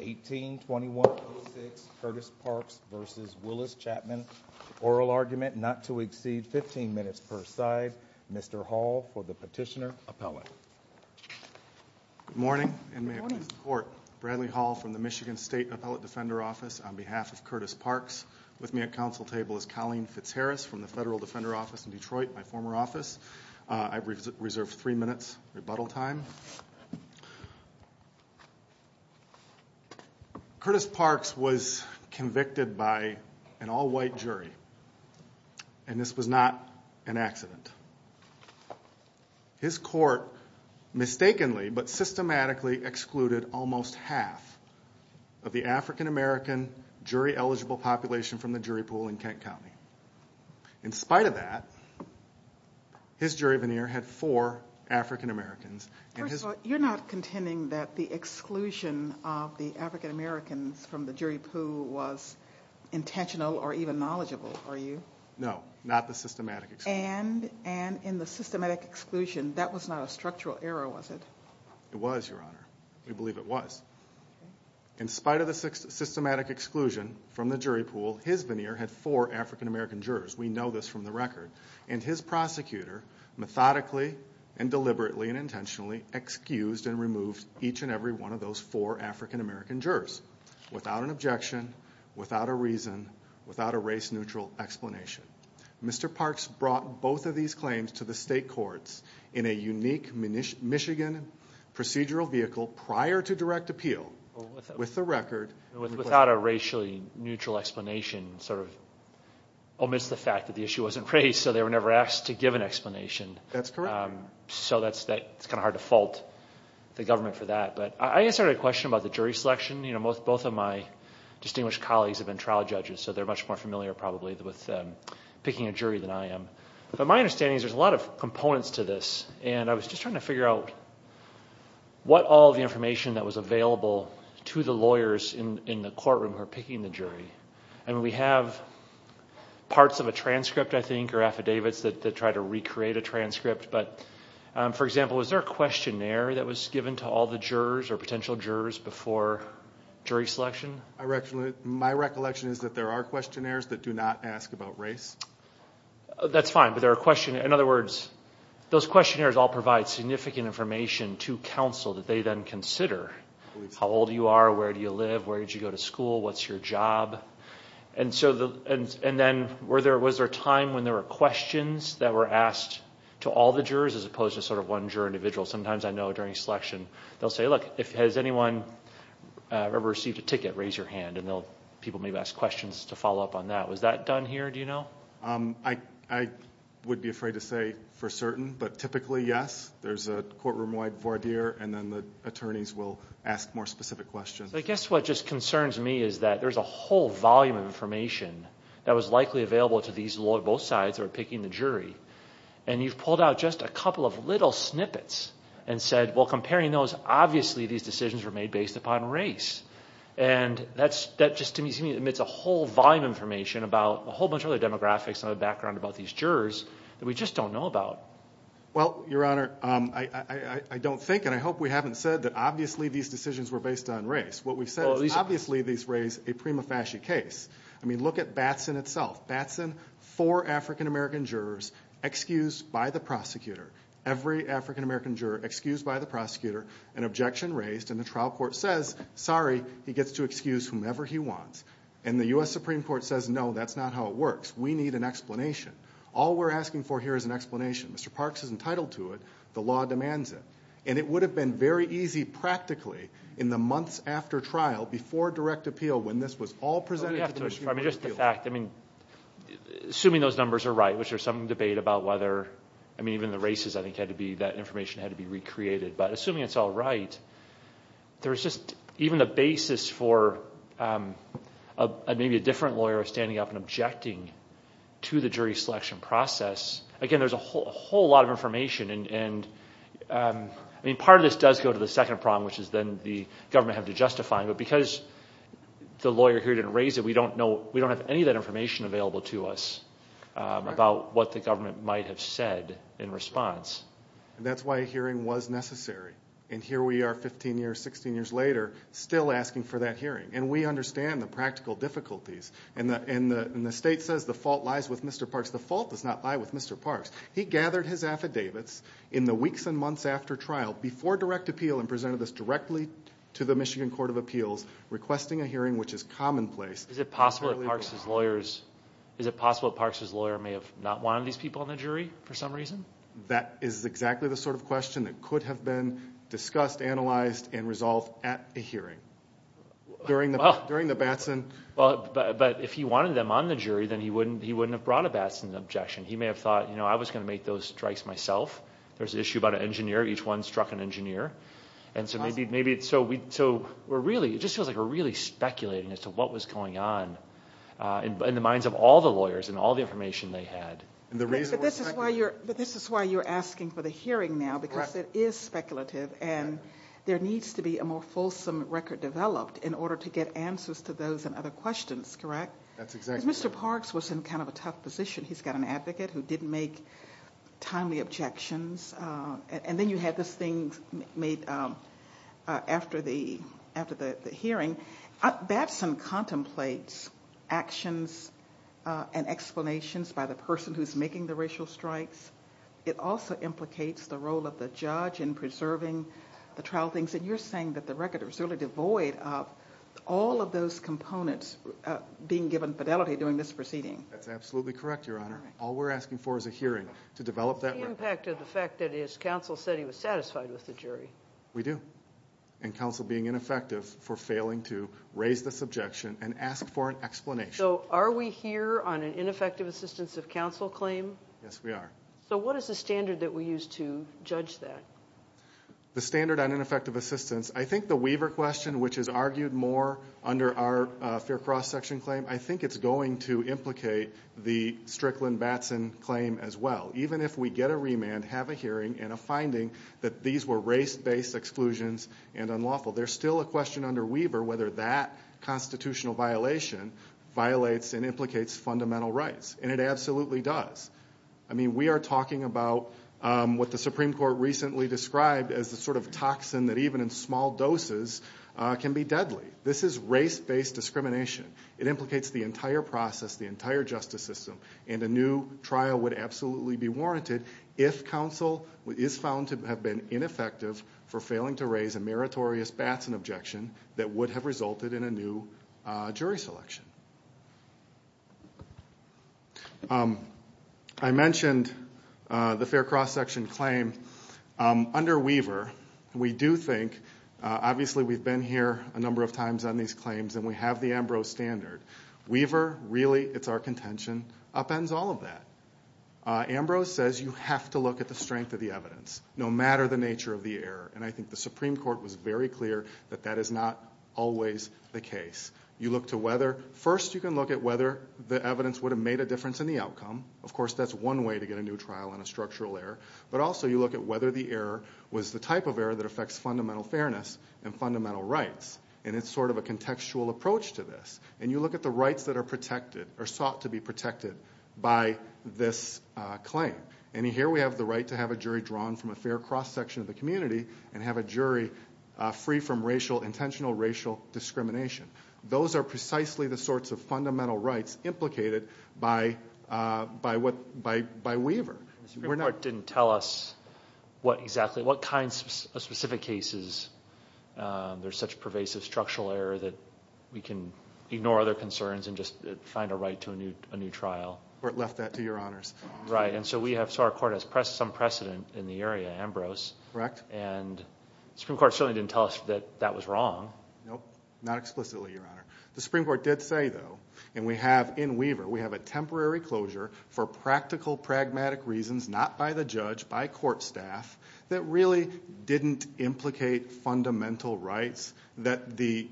1821-06 Curtis Parks v. Willis Chapman Oral Argument Not to Exceed 15 Minutes per Side Mr. Hall for the Petitioner Appellate Good morning and may it please the Court. Bradley Hall from the Michigan State Appellate Defender Office on behalf of Curtis Parks. With me at Council Table is Colleen Fitzharris from the Federal Defender Office in Detroit, my former office. I've reserved three minutes rebuttal time. Curtis Parks was convicted by an all-white jury and this was not an accident. His court mistakenly but systematically excluded almost half of the African-American jury-eligible population from the jury pool in Kent County. In spite of that, his jury veneer had four African-Americans. First of all, you're not contending that the exclusion of the African-Americans from the jury pool was intentional or even knowledgeable, are you? No, not the systematic exclusion. And in the systematic exclusion, that was not a structural error, was it? It was, Your Honor. We believe it was. In spite of the systematic exclusion from the jury pool, his veneer had four African-American jurors. We know this from the record. And his prosecutor methodically and deliberately and intentionally excused and removed each and every one of those four African-American jurors without an objection, without a reason, without a race-neutral explanation. Mr. Parks brought both of these claims to the state courts in a unique Michigan procedural vehicle prior to direct appeal with the record... Without a racially neutral explanation, sort of amidst the fact that the issue wasn't raised, so they were never asked to give an explanation. That's correct. So it's kind of hard to fault the government for that. But I answered a question about the jury selection. Both of my distinguished colleagues have been trial judges, so they're much more familiar probably with picking a jury than I am. But my understanding is there's a lot of components to this. And I was just trying to figure out what all of the information that was available to the lawyers in the courtroom who were picking the jury. And we have parts of a transcript, I think, or affidavits that try to recreate a transcript. But, for example, was there a questionnaire that was given to all the jurors or potential jurors before jury selection? My recollection is that there are questionnaires that do not ask about race. That's fine. In other words, those questionnaires all provide significant information to counsel that they then consider. How old you are, where do you live, where did you go to school, what's your job? And then was there a time when there were questions that were asked to all the jurors as opposed to sort of one juror individual? Sometimes I know during selection they'll say, look, has anyone ever received a ticket? Raise your hand, and people may ask questions to follow up on that. Was that done here, do you know? I would be afraid to say for certain, but typically, yes. There's a courtroom-wide voir dire, and then the attorneys will ask more specific questions. I guess what just concerns me is that there's a whole volume of information that was likely available to both sides that were picking the jury. And you've pulled out just a couple of little snippets and said, well, comparing those, obviously these decisions were made based upon race. And that just to me emits a whole volume of information about a whole bunch of other demographics and other background about these jurors that we just don't know about. Well, Your Honor, I don't think and I hope we haven't said that obviously these decisions were based on race. What we've said is obviously these raise a prima facie case. I mean, look at Batson itself. Batson, four African-American jurors, excused by the prosecutor. Every African-American juror excused by the prosecutor, an objection raised, and the trial court says, sorry, he gets to excuse whomever he wants. And the U.S. Supreme Court says, no, that's not how it works. We need an explanation. All we're asking for here is an explanation. Mr. Parks is entitled to it. The law demands it. And it would have been very easy practically in the months after trial before direct appeal when this was all presented to the Supreme Court. I mean, just the fact, I mean, assuming those numbers are right, which there's some debate about whether, I mean, even the races I think had to be, that information had to be recreated. But assuming it's all right, there's just even a basis for maybe a different lawyer standing up and objecting to the jury selection process. Again, there's a whole lot of information. And, I mean, part of this does go to the second problem, which is then the government having to justify it. But because the lawyer here didn't raise it, we don't know, we don't have any of that information available to us about what the government might have said in response. And that's why a hearing was necessary. And here we are 15 years, 16 years later still asking for that hearing. And we understand the practical difficulties. And the state says the fault lies with Mr. Parks. The fault does not lie with Mr. Parks. He gathered his affidavits in the weeks and months after trial before direct appeal and presented this directly to the Michigan Court of Appeals requesting a hearing which is commonplace. Is it possible that Parks' lawyer may have not wanted these people on the jury for some reason? That is exactly the sort of question that could have been discussed, analyzed, and resolved at a hearing during the Batson. But if he wanted them on the jury, then he wouldn't have brought a Batson objection. He may have thought, you know, I was going to make those strikes myself. There's an issue about an engineer. Each one struck an engineer. And so maybe – so we're really – it just feels like we're really speculating as to what was going on in the minds of all the lawyers and all the information they had. But this is why you're asking for the hearing now because it is speculative. And there needs to be a more fulsome record developed in order to get answers to those and other questions, correct? That's exactly right. Because Mr. Parks was in kind of a tough position. He's got an advocate who didn't make timely objections. And then you had this thing made after the hearing. Batson contemplates actions and explanations by the person who's making the racial strikes. It also implicates the role of the judge in preserving the trial things. And you're saying that the record is really devoid of all of those components being given fidelity during this proceeding. That's absolutely correct, Your Honor. All we're asking for is a hearing to develop that record. What's the impact of the fact that his counsel said he was satisfied with the jury? We do. And counsel being ineffective for failing to raise this objection and ask for an explanation. So are we here on an ineffective assistance of counsel claim? Yes, we are. So what is the standard that we use to judge that? The standard on ineffective assistance – I think the Weaver question, which is argued more under our fair cross-section claim, I think it's going to implicate the Strickland-Batson claim as well. Even if we get a remand, have a hearing, and a finding that these were race-based exclusions and unlawful, there's still a question under Weaver whether that constitutional violation violates and implicates fundamental rights. And it absolutely does. I mean, we are talking about what the Supreme Court recently described as the sort of toxin that even in small doses can be deadly. This is race-based discrimination. It implicates the entire process, the entire justice system. And a new trial would absolutely be warranted if counsel is found to have been ineffective for failing to raise a meritorious Batson objection that would have resulted in a new jury selection. I mentioned the fair cross-section claim. Under Weaver, we do think – obviously we've been here a number of times on these claims and we have the Ambrose standard. Weaver, really, it's our contention, upends all of that. Ambrose says you have to look at the strength of the evidence, no matter the nature of the error. And I think the Supreme Court was very clear that that is not always the case. You look to whether – first you can look at whether the evidence would have made a difference in the outcome. Of course, that's one way to get a new trial on a structural error. But also you look at whether the error was the type of error that affects fundamental fairness and fundamental rights. And it's sort of a contextual approach to this. And you look at the rights that are protected or sought to be protected by this claim. And here we have the right to have a jury drawn from a fair cross-section of the community and have a jury free from intentional racial discrimination. Those are precisely the sorts of fundamental rights implicated by Weaver. The Supreme Court didn't tell us what exactly – what kinds of specific cases there's such pervasive structural error that we can ignore other concerns and just find a right to a new trial. Or it left that to your honors. Right, and so we have – so our court has some precedent in the area, Ambrose. Correct. And the Supreme Court certainly didn't tell us that that was wrong. Nope, not explicitly, Your Honor. The Supreme Court did say, though, and we have in Weaver, we have a temporary closure for practical, pragmatic reasons, not by the judge, by court staff, that really didn't implicate fundamental rights that the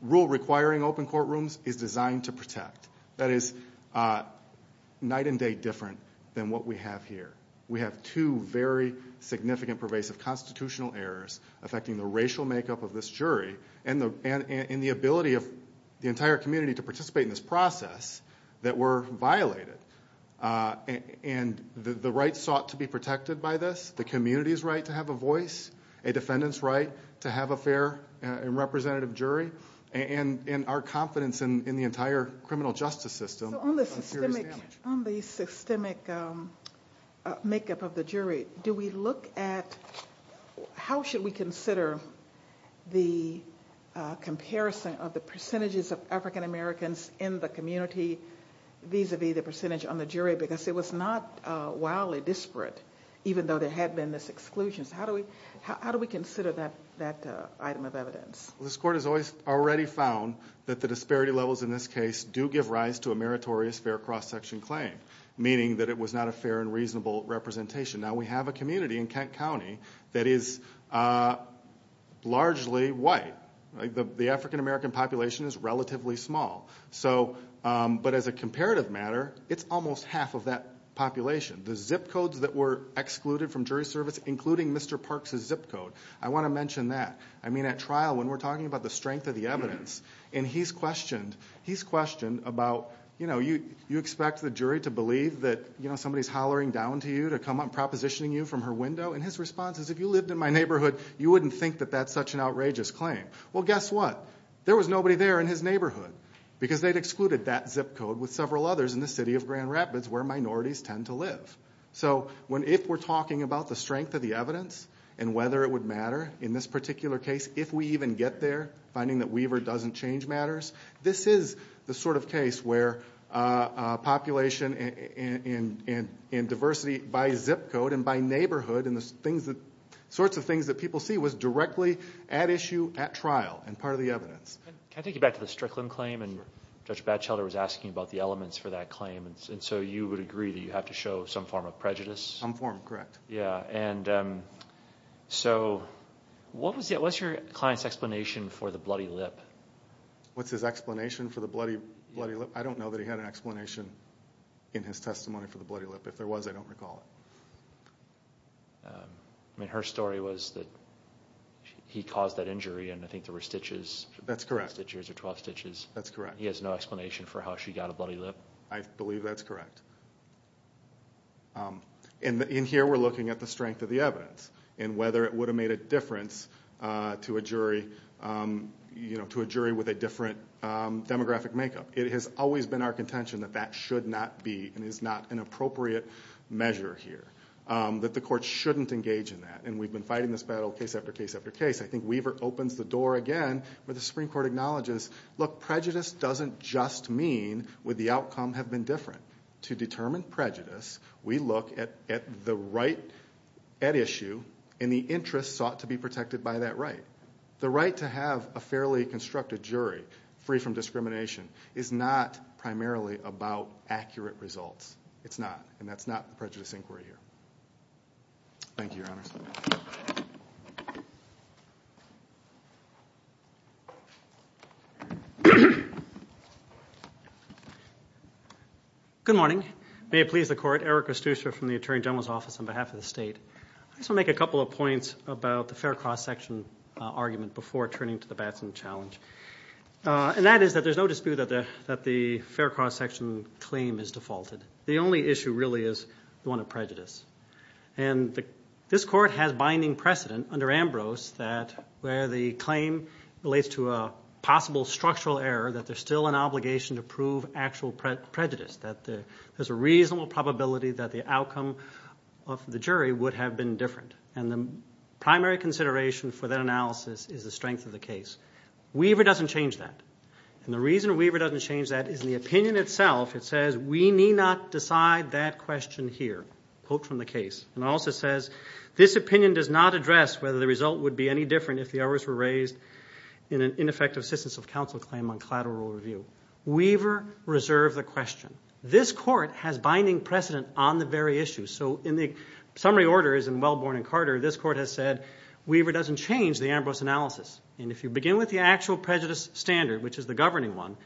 rule requiring open courtrooms is designed to protect. That is night and day different than what we have here. We have two very significant pervasive constitutional errors affecting the racial makeup of this jury and the ability of the entire community to participate in this process that were violated. And the right sought to be protected by this, the community's right to have a voice, a defendant's right to have a fair and representative jury, and our confidence in the entire criminal justice system. So on the systemic makeup of the jury, do we look at – how should we consider the comparison of the percentages of African Americans in the community vis-a-vis the percentage on the jury? Because it was not wildly disparate, even though there had been this exclusion. This court has already found that the disparity levels in this case do give rise to a meritorious, fair cross-section claim, meaning that it was not a fair and reasonable representation. Now we have a community in Kent County that is largely white. The African American population is relatively small. But as a comparative matter, it's almost half of that population. The zip codes that were excluded from jury service, including Mr. Parks' zip code, I want to mention that. I mean, at trial, when we're talking about the strength of the evidence, and he's questioned about, you know, you expect the jury to believe that somebody's hollering down to you to come up and propositioning you from her window. And his response is, if you lived in my neighborhood, you wouldn't think that that's such an outrageous claim. Well, guess what? There was nobody there in his neighborhood because they'd excluded that zip code with several others in the city of Grand Rapids, where minorities tend to live. So if we're talking about the strength of the evidence and whether it would matter in this particular case, if we even get there, finding that Weaver doesn't change matters, this is the sort of case where population and diversity by zip code and by neighborhood and the sorts of things that people see was directly at issue at trial and part of the evidence. Can I take you back to the Strickland claim? And Judge Batchelder was asking about the elements for that claim. And so you would agree that you have to show some form of prejudice? Some form, correct. Yeah, and so what was your client's explanation for the bloody lip? What's his explanation for the bloody lip? I don't know that he had an explanation in his testimony for the bloody lip. If there was, I don't recall it. I mean, her story was that he caused that injury and I think there were stitches. That's correct. 12 stitches. That's correct. He has no explanation for how she got a bloody lip? I believe that's correct. And here we're looking at the strength of the evidence and whether it would have made a difference to a jury with a different demographic makeup. It has always been our contention that that should not be and is not an appropriate measure here, that the court shouldn't engage in that. And we've been fighting this battle case after case after case. I think Weaver opens the door again where the Supreme Court acknowledges, look, prejudice doesn't just mean would the outcome have been different to determine prejudice, we look at the right at issue and the interest sought to be protected by that right. The right to have a fairly constructed jury free from discrimination is not primarily about accurate results. It's not, and that's not the prejudice inquiry here. Thank you, Your Honors. Good morning. May it please the Court. Eric Costuccio from the Attorney General's Office on behalf of the state. I just want to make a couple of points about the fair cross-section argument before turning to the Batson challenge. And that is that there's no dispute that the fair cross-section claim is defaulted. The only issue really is the one of prejudice. And this court has binding precedent under Ambrose where the claim relates to a possible structural error that there's still an obligation to prove actual prejudice, that there's a reasonable probability that the outcome of the jury would have been different. And the primary consideration for that analysis is the strength of the case. Weaver doesn't change that. And the reason Weaver doesn't change that is the opinion itself, it says, we need not decide that question here, quote from the case. And it also says, this opinion does not address whether the result would be any different if the errors were raised in an ineffective assistance of counsel claim on collateral review. Weaver reserved the question. This court has binding precedent on the very issue. So in the summary orders in Wellborn and Carter, this court has said, Weaver doesn't change the Ambrose analysis. And if you begin with the actual prejudice standard, which is the governing one,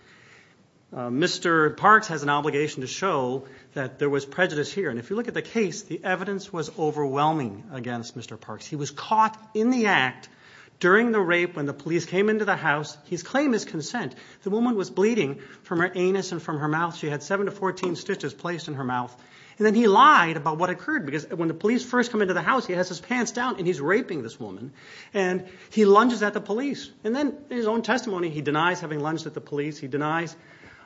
Mr. Parks has an obligation to show that there was prejudice here. And if you look at the case, the evidence was overwhelming against Mr. Parks. He was caught in the act during the rape when the police came into the house. His claim is consent. The woman was bleeding from her anus and from her mouth. She had 7 to 14 stitches placed in her mouth. And then he lied about what occurred because when the police first come into the house, he has his pants down and he's raping this woman, and he lunges at the police. And then in his own testimony, he denies having lunged at the police. He denies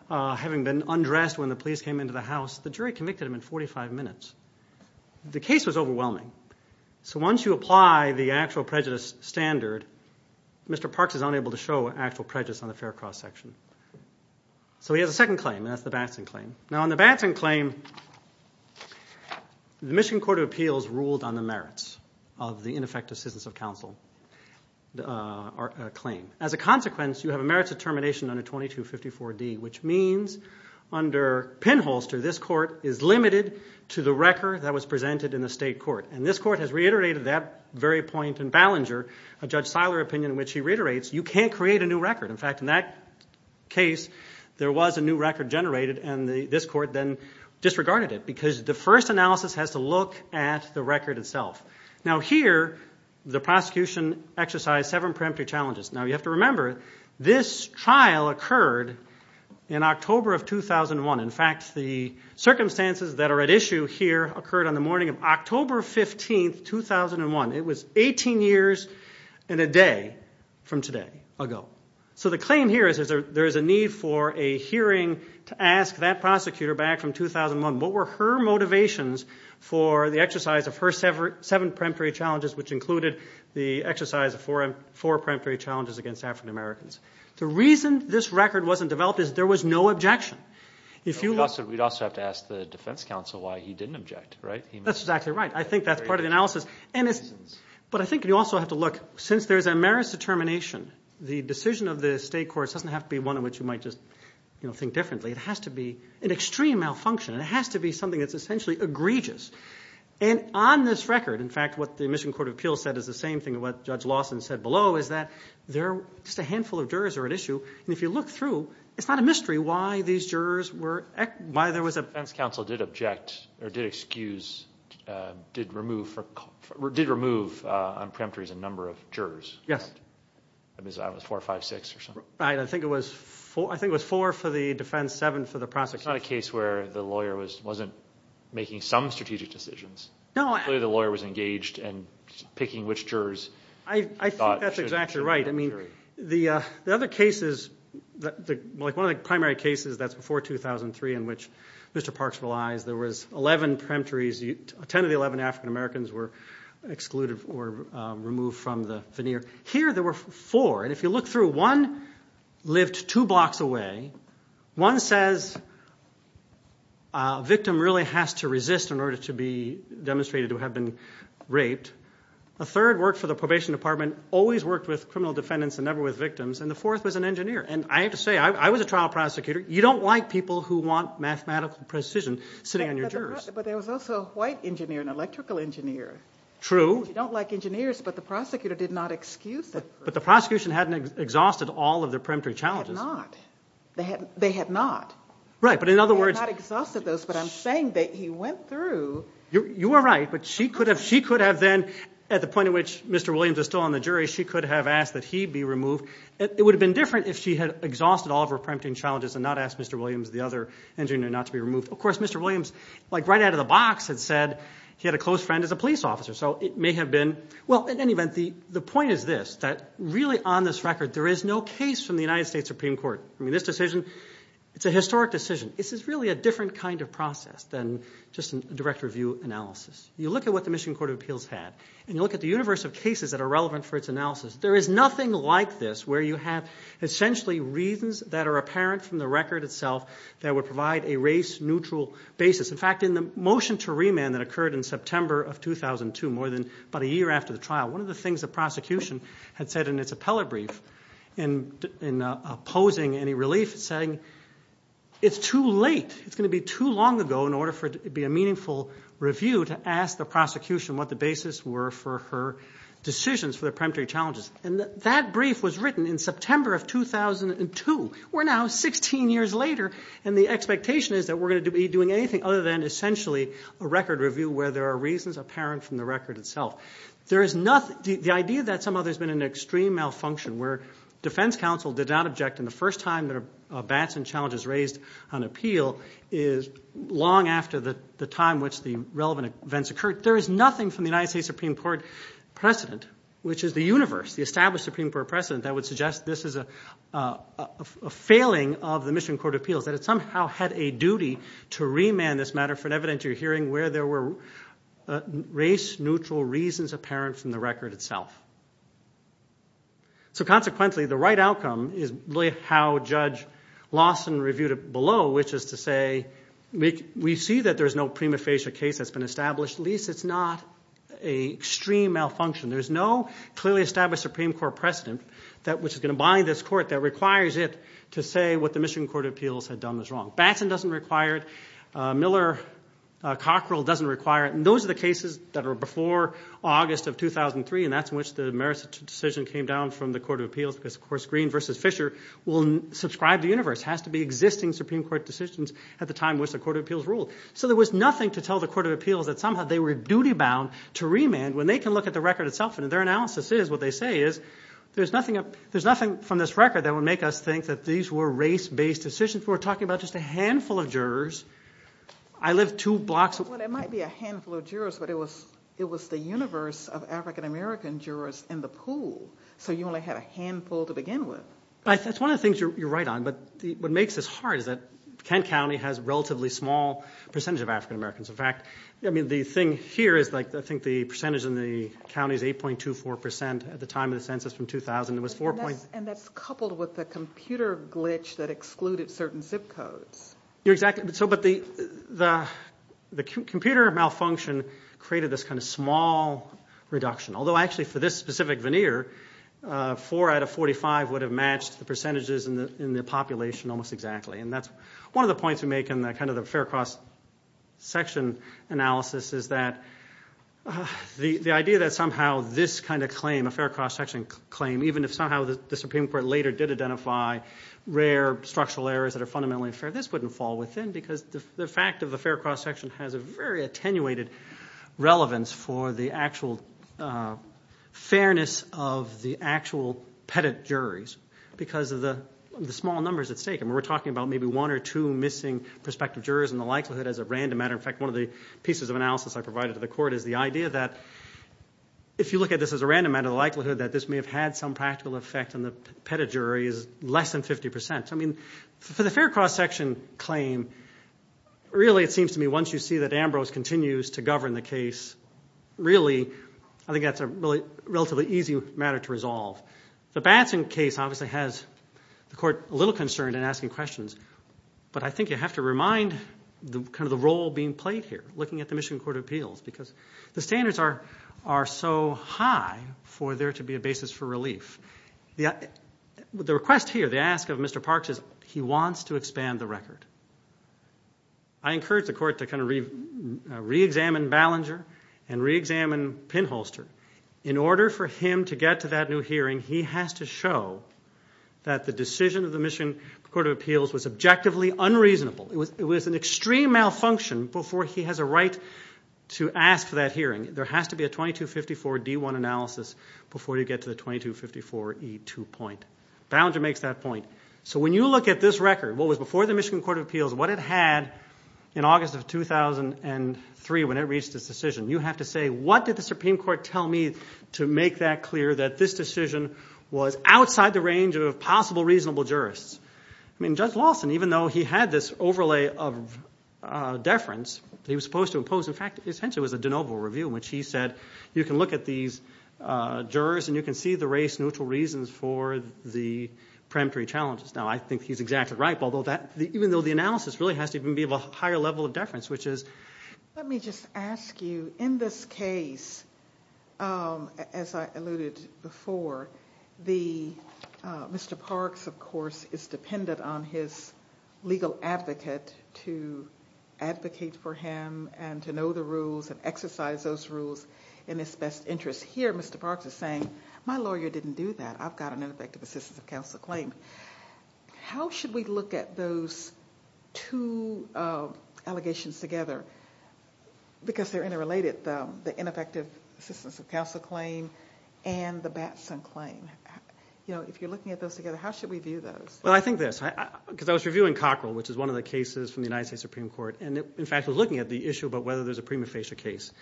having been undressed when the police came into the house. The jury convicted him in 45 minutes. The case was overwhelming. So once you apply the actual prejudice standard, Mr. Parks is unable to show actual prejudice on the fair cross section. So he has a second claim, and that's the Batson claim. Now on the Batson claim, the Michigan Court of Appeals ruled on the merits of the ineffective citizens of counsel claim. As a consequence, you have a merits determination under 2254D, which means under pinholster, this court is limited to the record that was presented in the state court. And this court has reiterated that very point in Ballinger, a Judge Seiler opinion in which he reiterates you can't create a new record. In fact, in that case, there was a new record generated, and this court then disregarded it because the first analysis has to look at the record itself. Now here the prosecution exercised seven preemptive challenges. Now you have to remember this trial occurred in October of 2001. In fact, the circumstances that are at issue here occurred on the morning of October 15, 2001. It was 18 years and a day from today ago. So the claim here is there is a need for a hearing to ask that prosecutor back from 2001, what were her motivations for the exercise of her seven preemptory challenges, which included the exercise of four preemptory challenges against African Americans. The reason this record wasn't developed is there was no objection. We'd also have to ask the defense counsel why he didn't object, right? That's exactly right. I think that's part of the analysis. But I think you also have to look, since there's a merits determination, the decision of the state courts doesn't have to be one in which you might just think differently. It has to be an extreme malfunction. It has to be something that's essentially egregious. And on this record, in fact, what the Michigan Court of Appeals said is the same thing as what Judge Lawson said below is that there are just a handful of jurors that are at issue. And if you look through, it's not a mystery why these jurors were – why there was a – The defense counsel did object or did excuse – did remove on preemptories a number of jurors. Yes. I mean, it was four, five, six or something. Right. I think it was four for the defense, seven for the prosecution. It's not a case where the lawyer wasn't making some strategic decisions. No. Clearly the lawyer was engaged in picking which jurors – I think that's exactly right. I mean, the other cases – like one of the primary cases that's before 2003 in which Mr. Parks relies, there was 11 preemptories. Ten of the 11 African-Americans were excluded or removed from the veneer. Here there were four. And if you look through, one lived two blocks away. One says a victim really has to resist in order to be demonstrated to have been raped. A third worked for the probation department, always worked with criminal defendants and never with victims. And the fourth was an engineer. And I have to say, I was a trial prosecutor. You don't like people who want mathematical precision sitting on your jurors. But there was also a white engineer, an electrical engineer. True. You don't like engineers, but the prosecutor did not excuse them. But the prosecution hadn't exhausted all of their preemptory challenges. They had not. They had not. Right, but in other words – They had not exhausted those, but I'm saying that he went through – You are right, but she could have then, at the point in which Mr. Williams is still on the jury, she could have asked that he be removed. It would have been different if she had exhausted all of her preempting challenges and not asked Mr. Williams, the other engineer, not to be removed. Of course, Mr. Williams, like right out of the box, had said he had a close friend as a police officer. So it may have been – Well, in any event, the point is this, that really on this record, there is no case from the United States Supreme Court. I mean, this decision, it's a historic decision. This is really a different kind of process than just a direct review analysis. You look at what the Michigan Court of Appeals had, and you look at the universe of cases that are relevant for its analysis, there is nothing like this where you have essentially reasons that are apparent from the record itself that would provide a race-neutral basis. In fact, in the motion to remand that occurred in September of 2002, more than about a year after the trial, one of the things the prosecution had said in its appellate brief, in opposing any relief, saying, it's too late, it's going to be too long ago in order for it to be a meaningful review to ask the prosecution what the basis were for her decisions for the peremptory challenges. And that brief was written in September of 2002. We're now 16 years later, and the expectation is that we're going to be doing anything other than essentially a record review where there are reasons apparent from the record itself. The idea that somehow there's been an extreme malfunction where defense counsel did not object in the first time that a Batson challenge is raised on appeal is long after the time which the relevant events occurred. There is nothing from the United States Supreme Court precedent, which is the universe, the established Supreme Court precedent, that would suggest this is a failing of the Michigan Court of Appeals, that it somehow had a duty to remand this matter for an evidentiary hearing where there were race-neutral reasons apparent from the record itself. So consequently, the right outcome is really how Judge Lawson reviewed it below, which is to say, we see that there's no prima facie case that's been established, at least it's not an extreme malfunction. There's no clearly established Supreme Court precedent, which is going to bind this court that requires it to say what the Michigan Court of Appeals had done was wrong. Batson doesn't require it. Miller-Cockrell doesn't require it. Those are the cases that are before August of 2003, and that's in which the merits of the decision came down from the Court of Appeals, because, of course, Green v. Fisher will subscribe the universe. It has to be existing Supreme Court decisions at the time in which the Court of Appeals ruled. So there was nothing to tell the Court of Appeals that somehow they were duty-bound to remand when they can look at the record itself. Their analysis is, what they say is, there's nothing from this record that would make us think that these were race-based decisions. You were talking about just a handful of jurors. I live two blocks away. Well, it might be a handful of jurors, but it was the universe of African-American jurors in the pool, so you only had a handful to begin with. That's one of the things you're right on, but what makes this hard is that Kent County has a relatively small percentage of African-Americans. In fact, the thing here is I think the percentage in the county is 8.24 percent at the time of the census from 2000. And that's coupled with the computer glitch that excluded certain zip codes. Exactly. But the computer malfunction created this kind of small reduction, although actually for this specific veneer, four out of 45 would have matched the percentages in the population almost exactly, and that's one of the points we make in kind of the fair cross section analysis is that the idea that somehow this kind of claim, a fair cross section claim, even if somehow the Supreme Court later did identify rare structural errors that are fundamentally unfair, this wouldn't fall within because the fact of the fair cross section has a very attenuated relevance for the actual fairness of the actual pettit juries because of the small numbers it's taken. We're talking about maybe one or two missing prospective jurors in the likelihood as a random matter. In fact, one of the pieces of analysis I provided to the court is the idea that if you look at this as a random matter, the likelihood that this may have had some practical effect in the pettit jury is less than 50%. I mean, for the fair cross section claim, really it seems to me once you see that Ambrose continues to govern the case, really I think that's a relatively easy matter to resolve. The Batson case obviously has the court a little concerned in asking questions, but I think you have to remind kind of the role being played here looking at the Michigan Court of Appeals because the standards are so high for there to be a basis for relief. The request here, the ask of Mr. Parks is he wants to expand the record. I encourage the court to kind of reexamine Ballinger and reexamine Pinholster. In order for him to get to that new hearing, he has to show that the decision of the Michigan Court of Appeals was objectively unreasonable. It was an extreme malfunction before he has a right to ask for that hearing. There has to be a 2254-D1 analysis before you get to the 2254-E2 point. Ballinger makes that point. So when you look at this record, what was before the Michigan Court of Appeals, what it had in August of 2003 when it reached its decision, you have to say, what did the Supreme Court tell me to make that clear that this decision was outside the range of possible reasonable jurists? Judge Lawson, even though he had this overlay of deference that he was supposed to impose, in fact, essentially it was a de novo review in which he said you can look at these jurors and you can see the race-neutral reasons for the preemptory challenges. Now, I think he's exactly right, even though the analysis really has to be of a higher level of deference, which is... on his legal advocate to advocate for him and to know the rules and exercise those rules in his best interest. Here, Mr. Parks is saying, my lawyer didn't do that. I've got an ineffective assistance of counsel claim. How should we look at those two allegations together? Because they're interrelated, the ineffective assistance of counsel claim and the Batson claim. If you're looking at those together, how should we view those? Well, I think this, because I was reviewing Cockrell, which is one of the cases from the United States Supreme Court, and in fact was looking at the issue about whether there's a prima facie case.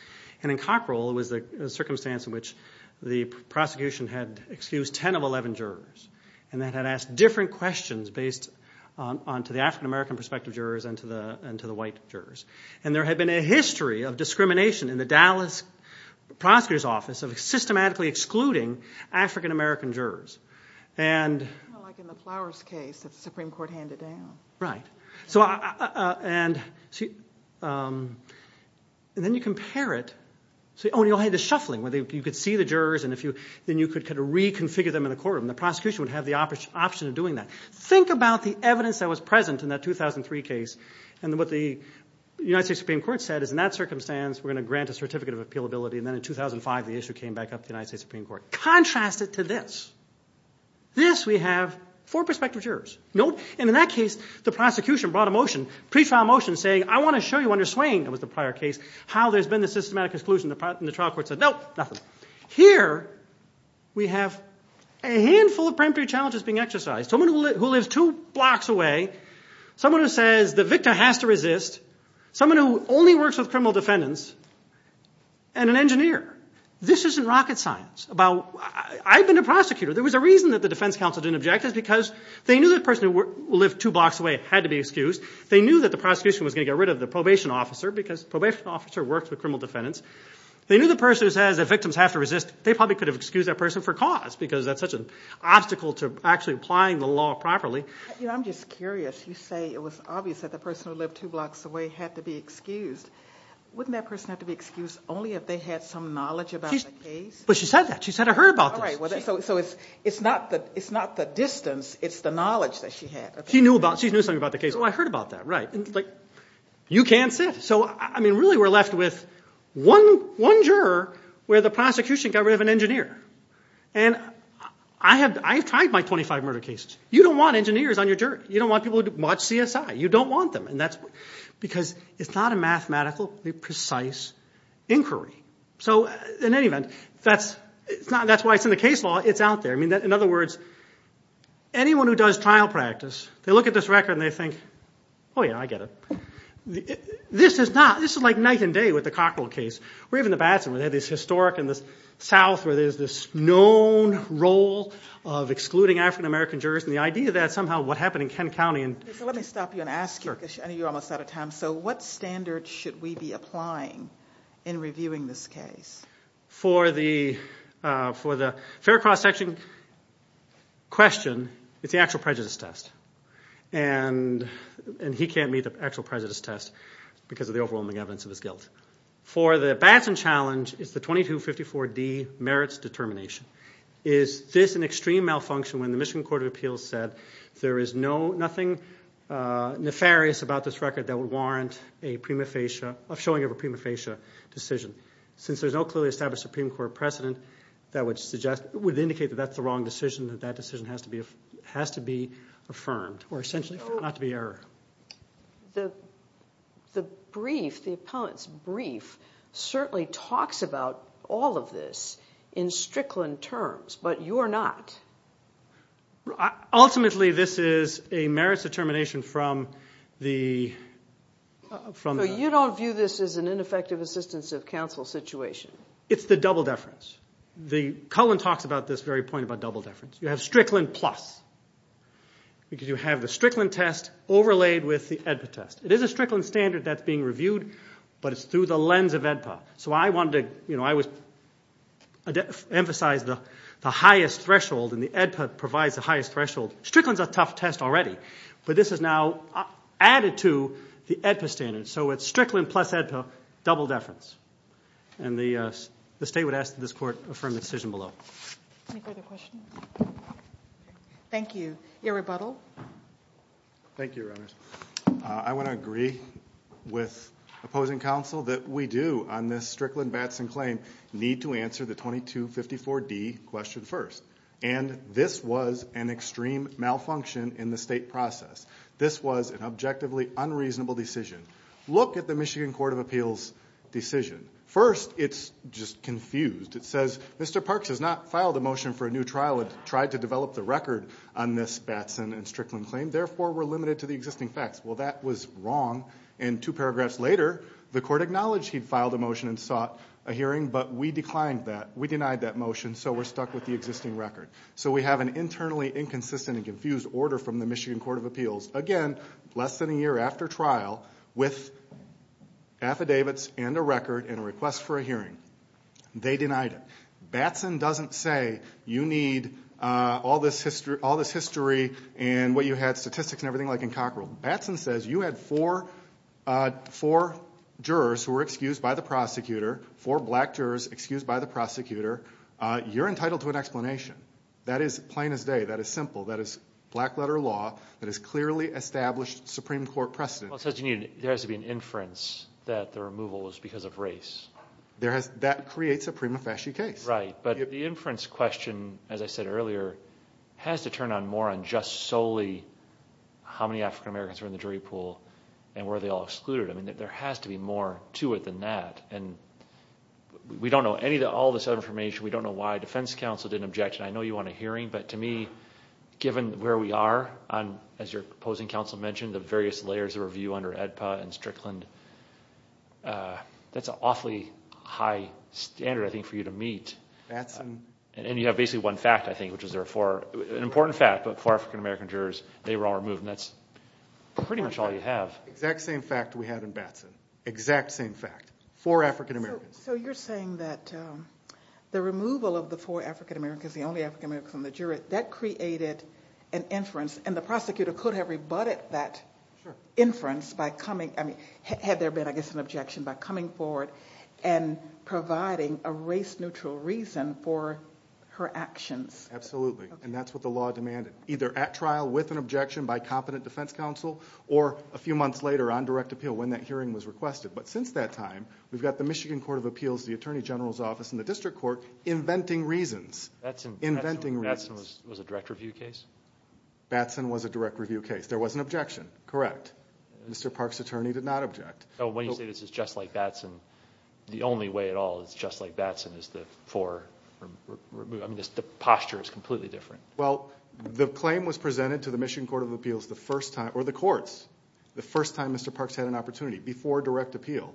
And in Cockrell, it was the circumstance in which the prosecution had excused 10 of 11 jurors and then had asked different questions based onto the African-American prospective jurors and to the white jurors. And there had been a history of discrimination in the Dallas prosecutor's office of systematically excluding African-American jurors. Like in the Flowers case, the Supreme Court handed down. Right. And then you compare it. Oh, and you had the shuffling where you could see the jurors and then you could reconfigure them in the courtroom. The prosecution would have the option of doing that. Think about the evidence that was present in that 2003 case and what the United States Supreme Court said is, in that circumstance, we're going to grant a certificate of appealability. And then in 2005, the issue came back up to the United States Supreme Court. Contrast it to this. This we have four prospective jurors. Nope. And in that case, the prosecution brought a motion, pretrial motion, saying, I want to show you under swaying, that was the prior case, how there's been the systematic exclusion. And the trial court said, nope, nothing. Here we have a handful of preemptory challenges being exercised. Someone who lives two blocks away, someone who says the victor has to resist, someone who only works with criminal defendants, and an engineer. This isn't rocket science. I've been a prosecutor. There was a reason that the defense counsel didn't object. It's because they knew the person who lived two blocks away had to be excused. They knew that the prosecution was going to get rid of the probation officer because the probation officer works with criminal defendants. They knew the person who says the victims have to resist, they probably could have excused that person for cause because that's such an obstacle to actually applying the law properly. I'm just curious. You say it was obvious that the person who lived two blocks away had to be excused. Wouldn't that person have to be excused only if they had some knowledge about the case? But she said that. She said, I heard about this. So it's not the distance, it's the knowledge that she had. She knew something about the case. Oh, I heard about that, right. You can't sit. So, I mean, really we're left with one juror where the prosecution got rid of an engineer. And I've tried my 25 murder cases. You don't want engineers on your jury. You don't want people who watch CSI. You don't want them because it's not a mathematically precise inquiry. So in any event, that's why it's in the case law. It's out there. In other words, anyone who does trial practice, they look at this record and they think, oh, yeah, I get it. This is like night and day with the Cockrell case. Or even the Batson where they had this historic in the south where there's this known role of excluding African-American jurors. And the idea that somehow what happened in Kent County. Let me stop you and ask you because I know you're almost out of time. So what standards should we be applying in reviewing this case? For the fair cross-section question, it's the actual prejudice test. And he can't meet the actual prejudice test because of the overwhelming evidence of his guilt. For the Batson challenge, it's the 2254D merits determination. Is this an extreme malfunction when the Michigan Court of Appeals said there is nothing nefarious about this record that would warrant a showing of a prima facie decision? Since there's no clearly established Supreme Court precedent that would indicate that that's the wrong decision, that that decision has to be affirmed or essentially not to be errored. The brief, the appellant's brief, certainly talks about all of this in Strickland terms, but you're not. Ultimately, this is a merits determination from the... So you don't view this as an ineffective assistance of counsel situation? It's the double deference. Cullen talks about this very point about double deference. You have Strickland plus because you have the Strickland test overlaid with the AEDPA test. It is a Strickland standard that's being reviewed, but it's through the lens of AEDPA. So I wanted to emphasize the highest threshold, and the AEDPA provides the highest threshold. Strickland's a tough test already, but this is now added to the AEDPA standard. So it's Strickland plus AEDPA, double deference. And the state would ask that this court affirm the decision below. Any further questions? Thank you. Your rebuttal. Thank you, Your Honors. I want to agree with opposing counsel that we do on this Strickland-Batson claim need to answer the 2254D question first. And this was an extreme malfunction in the state process. This was an objectively unreasonable decision. Look at the Michigan Court of Appeals decision. First, it's just confused. It says, Mr. Parks has not filed a motion for a new trial and tried to develop the record on this Batson and Strickland claim, therefore, we're limited to the existing facts. Well, that was wrong, and two paragraphs later, the court acknowledged he'd filed a motion and sought a hearing, but we declined that. We denied that motion, so we're stuck with the existing record. So we have an internally inconsistent and confused order from the Michigan Court of Appeals, again, less than a year after trial, with affidavits and a record and a request for a hearing. They denied it. Batson doesn't say you need all this history and what you had, statistics and everything like in Cockrell. Batson says you had four jurors who were excused by the prosecutor, four black jurors excused by the prosecutor. You're entitled to an explanation. That is plain as day. That is simple. That is black-letter law that has clearly established Supreme Court precedent. Well, it says there has to be an inference that the removal was because of race. That creates a prima facie case. Right, but the inference question, as I said earlier, has to turn more on just solely how many African Americans were in the jury pool and were they all excluded. I mean, there has to be more to it than that, and we don't know all this other information. We don't know why defense counsel didn't object, and I know you want a hearing, but to me, given where we are, as your opposing counsel mentioned, the various layers of review under AEDPA and Strickland, that's an awfully high standard, I think, for you to meet. And you have basically one fact, I think, which is there are four, an important fact, but four African American jurors, they were all removed, and that's pretty much all you have. Exact same fact we had in Batson. Exact same fact. Four African Americans. So you're saying that the removal of the four African Americans, the only African Americans in the jury, that created an inference, and the prosecutor could have rebutted that inference by coming, I mean, had there been, I guess, an objection, by coming forward and providing a race-neutral reason for her actions. Absolutely, and that's what the law demanded, either at trial with an objection by competent defense counsel or a few months later on direct appeal when that hearing was requested. But since that time, we've got the Michigan Court of Appeals, the Attorney General's Office, and the district court inventing reasons. Batson was a direct review case? Batson was a direct review case. There was an objection, correct. Mr. Parks' attorney did not object. When you say this is just like Batson, the only way at all it's just like Batson is the posture is completely different. Well, the claim was presented to the Michigan Court of Appeals the first time, or the courts, the first time Mr. Parks had an opportunity, before direct appeal.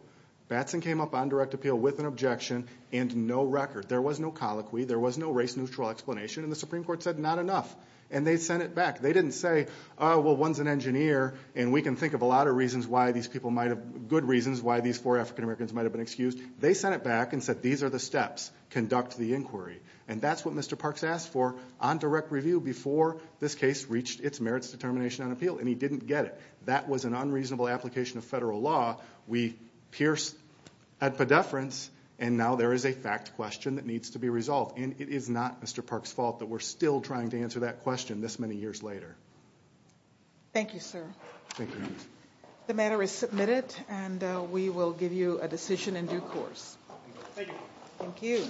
Batson came up on direct appeal with an objection and no record. There was no colloquy. There was no race-neutral explanation, and the Supreme Court said not enough, and they sent it back. They didn't say, well, one's an engineer, and we can think of a lot of reasons why these people might have, good reasons why these four African Americans might have been excused. They sent it back and said these are the steps. Conduct the inquiry, and that's what Mr. Parks asked for on direct review before this case reached its merits determination on appeal, and he didn't get it. That was an unreasonable application of federal law. We pierced at pedefrance, and now there is a fact question that needs to be resolved, and it is not Mr. Parks' fault that we're still trying to answer that question this many years later. Thank you, sir. Thank you. The matter is submitted, and we will give you a decision in due course. Thank you. Thank you.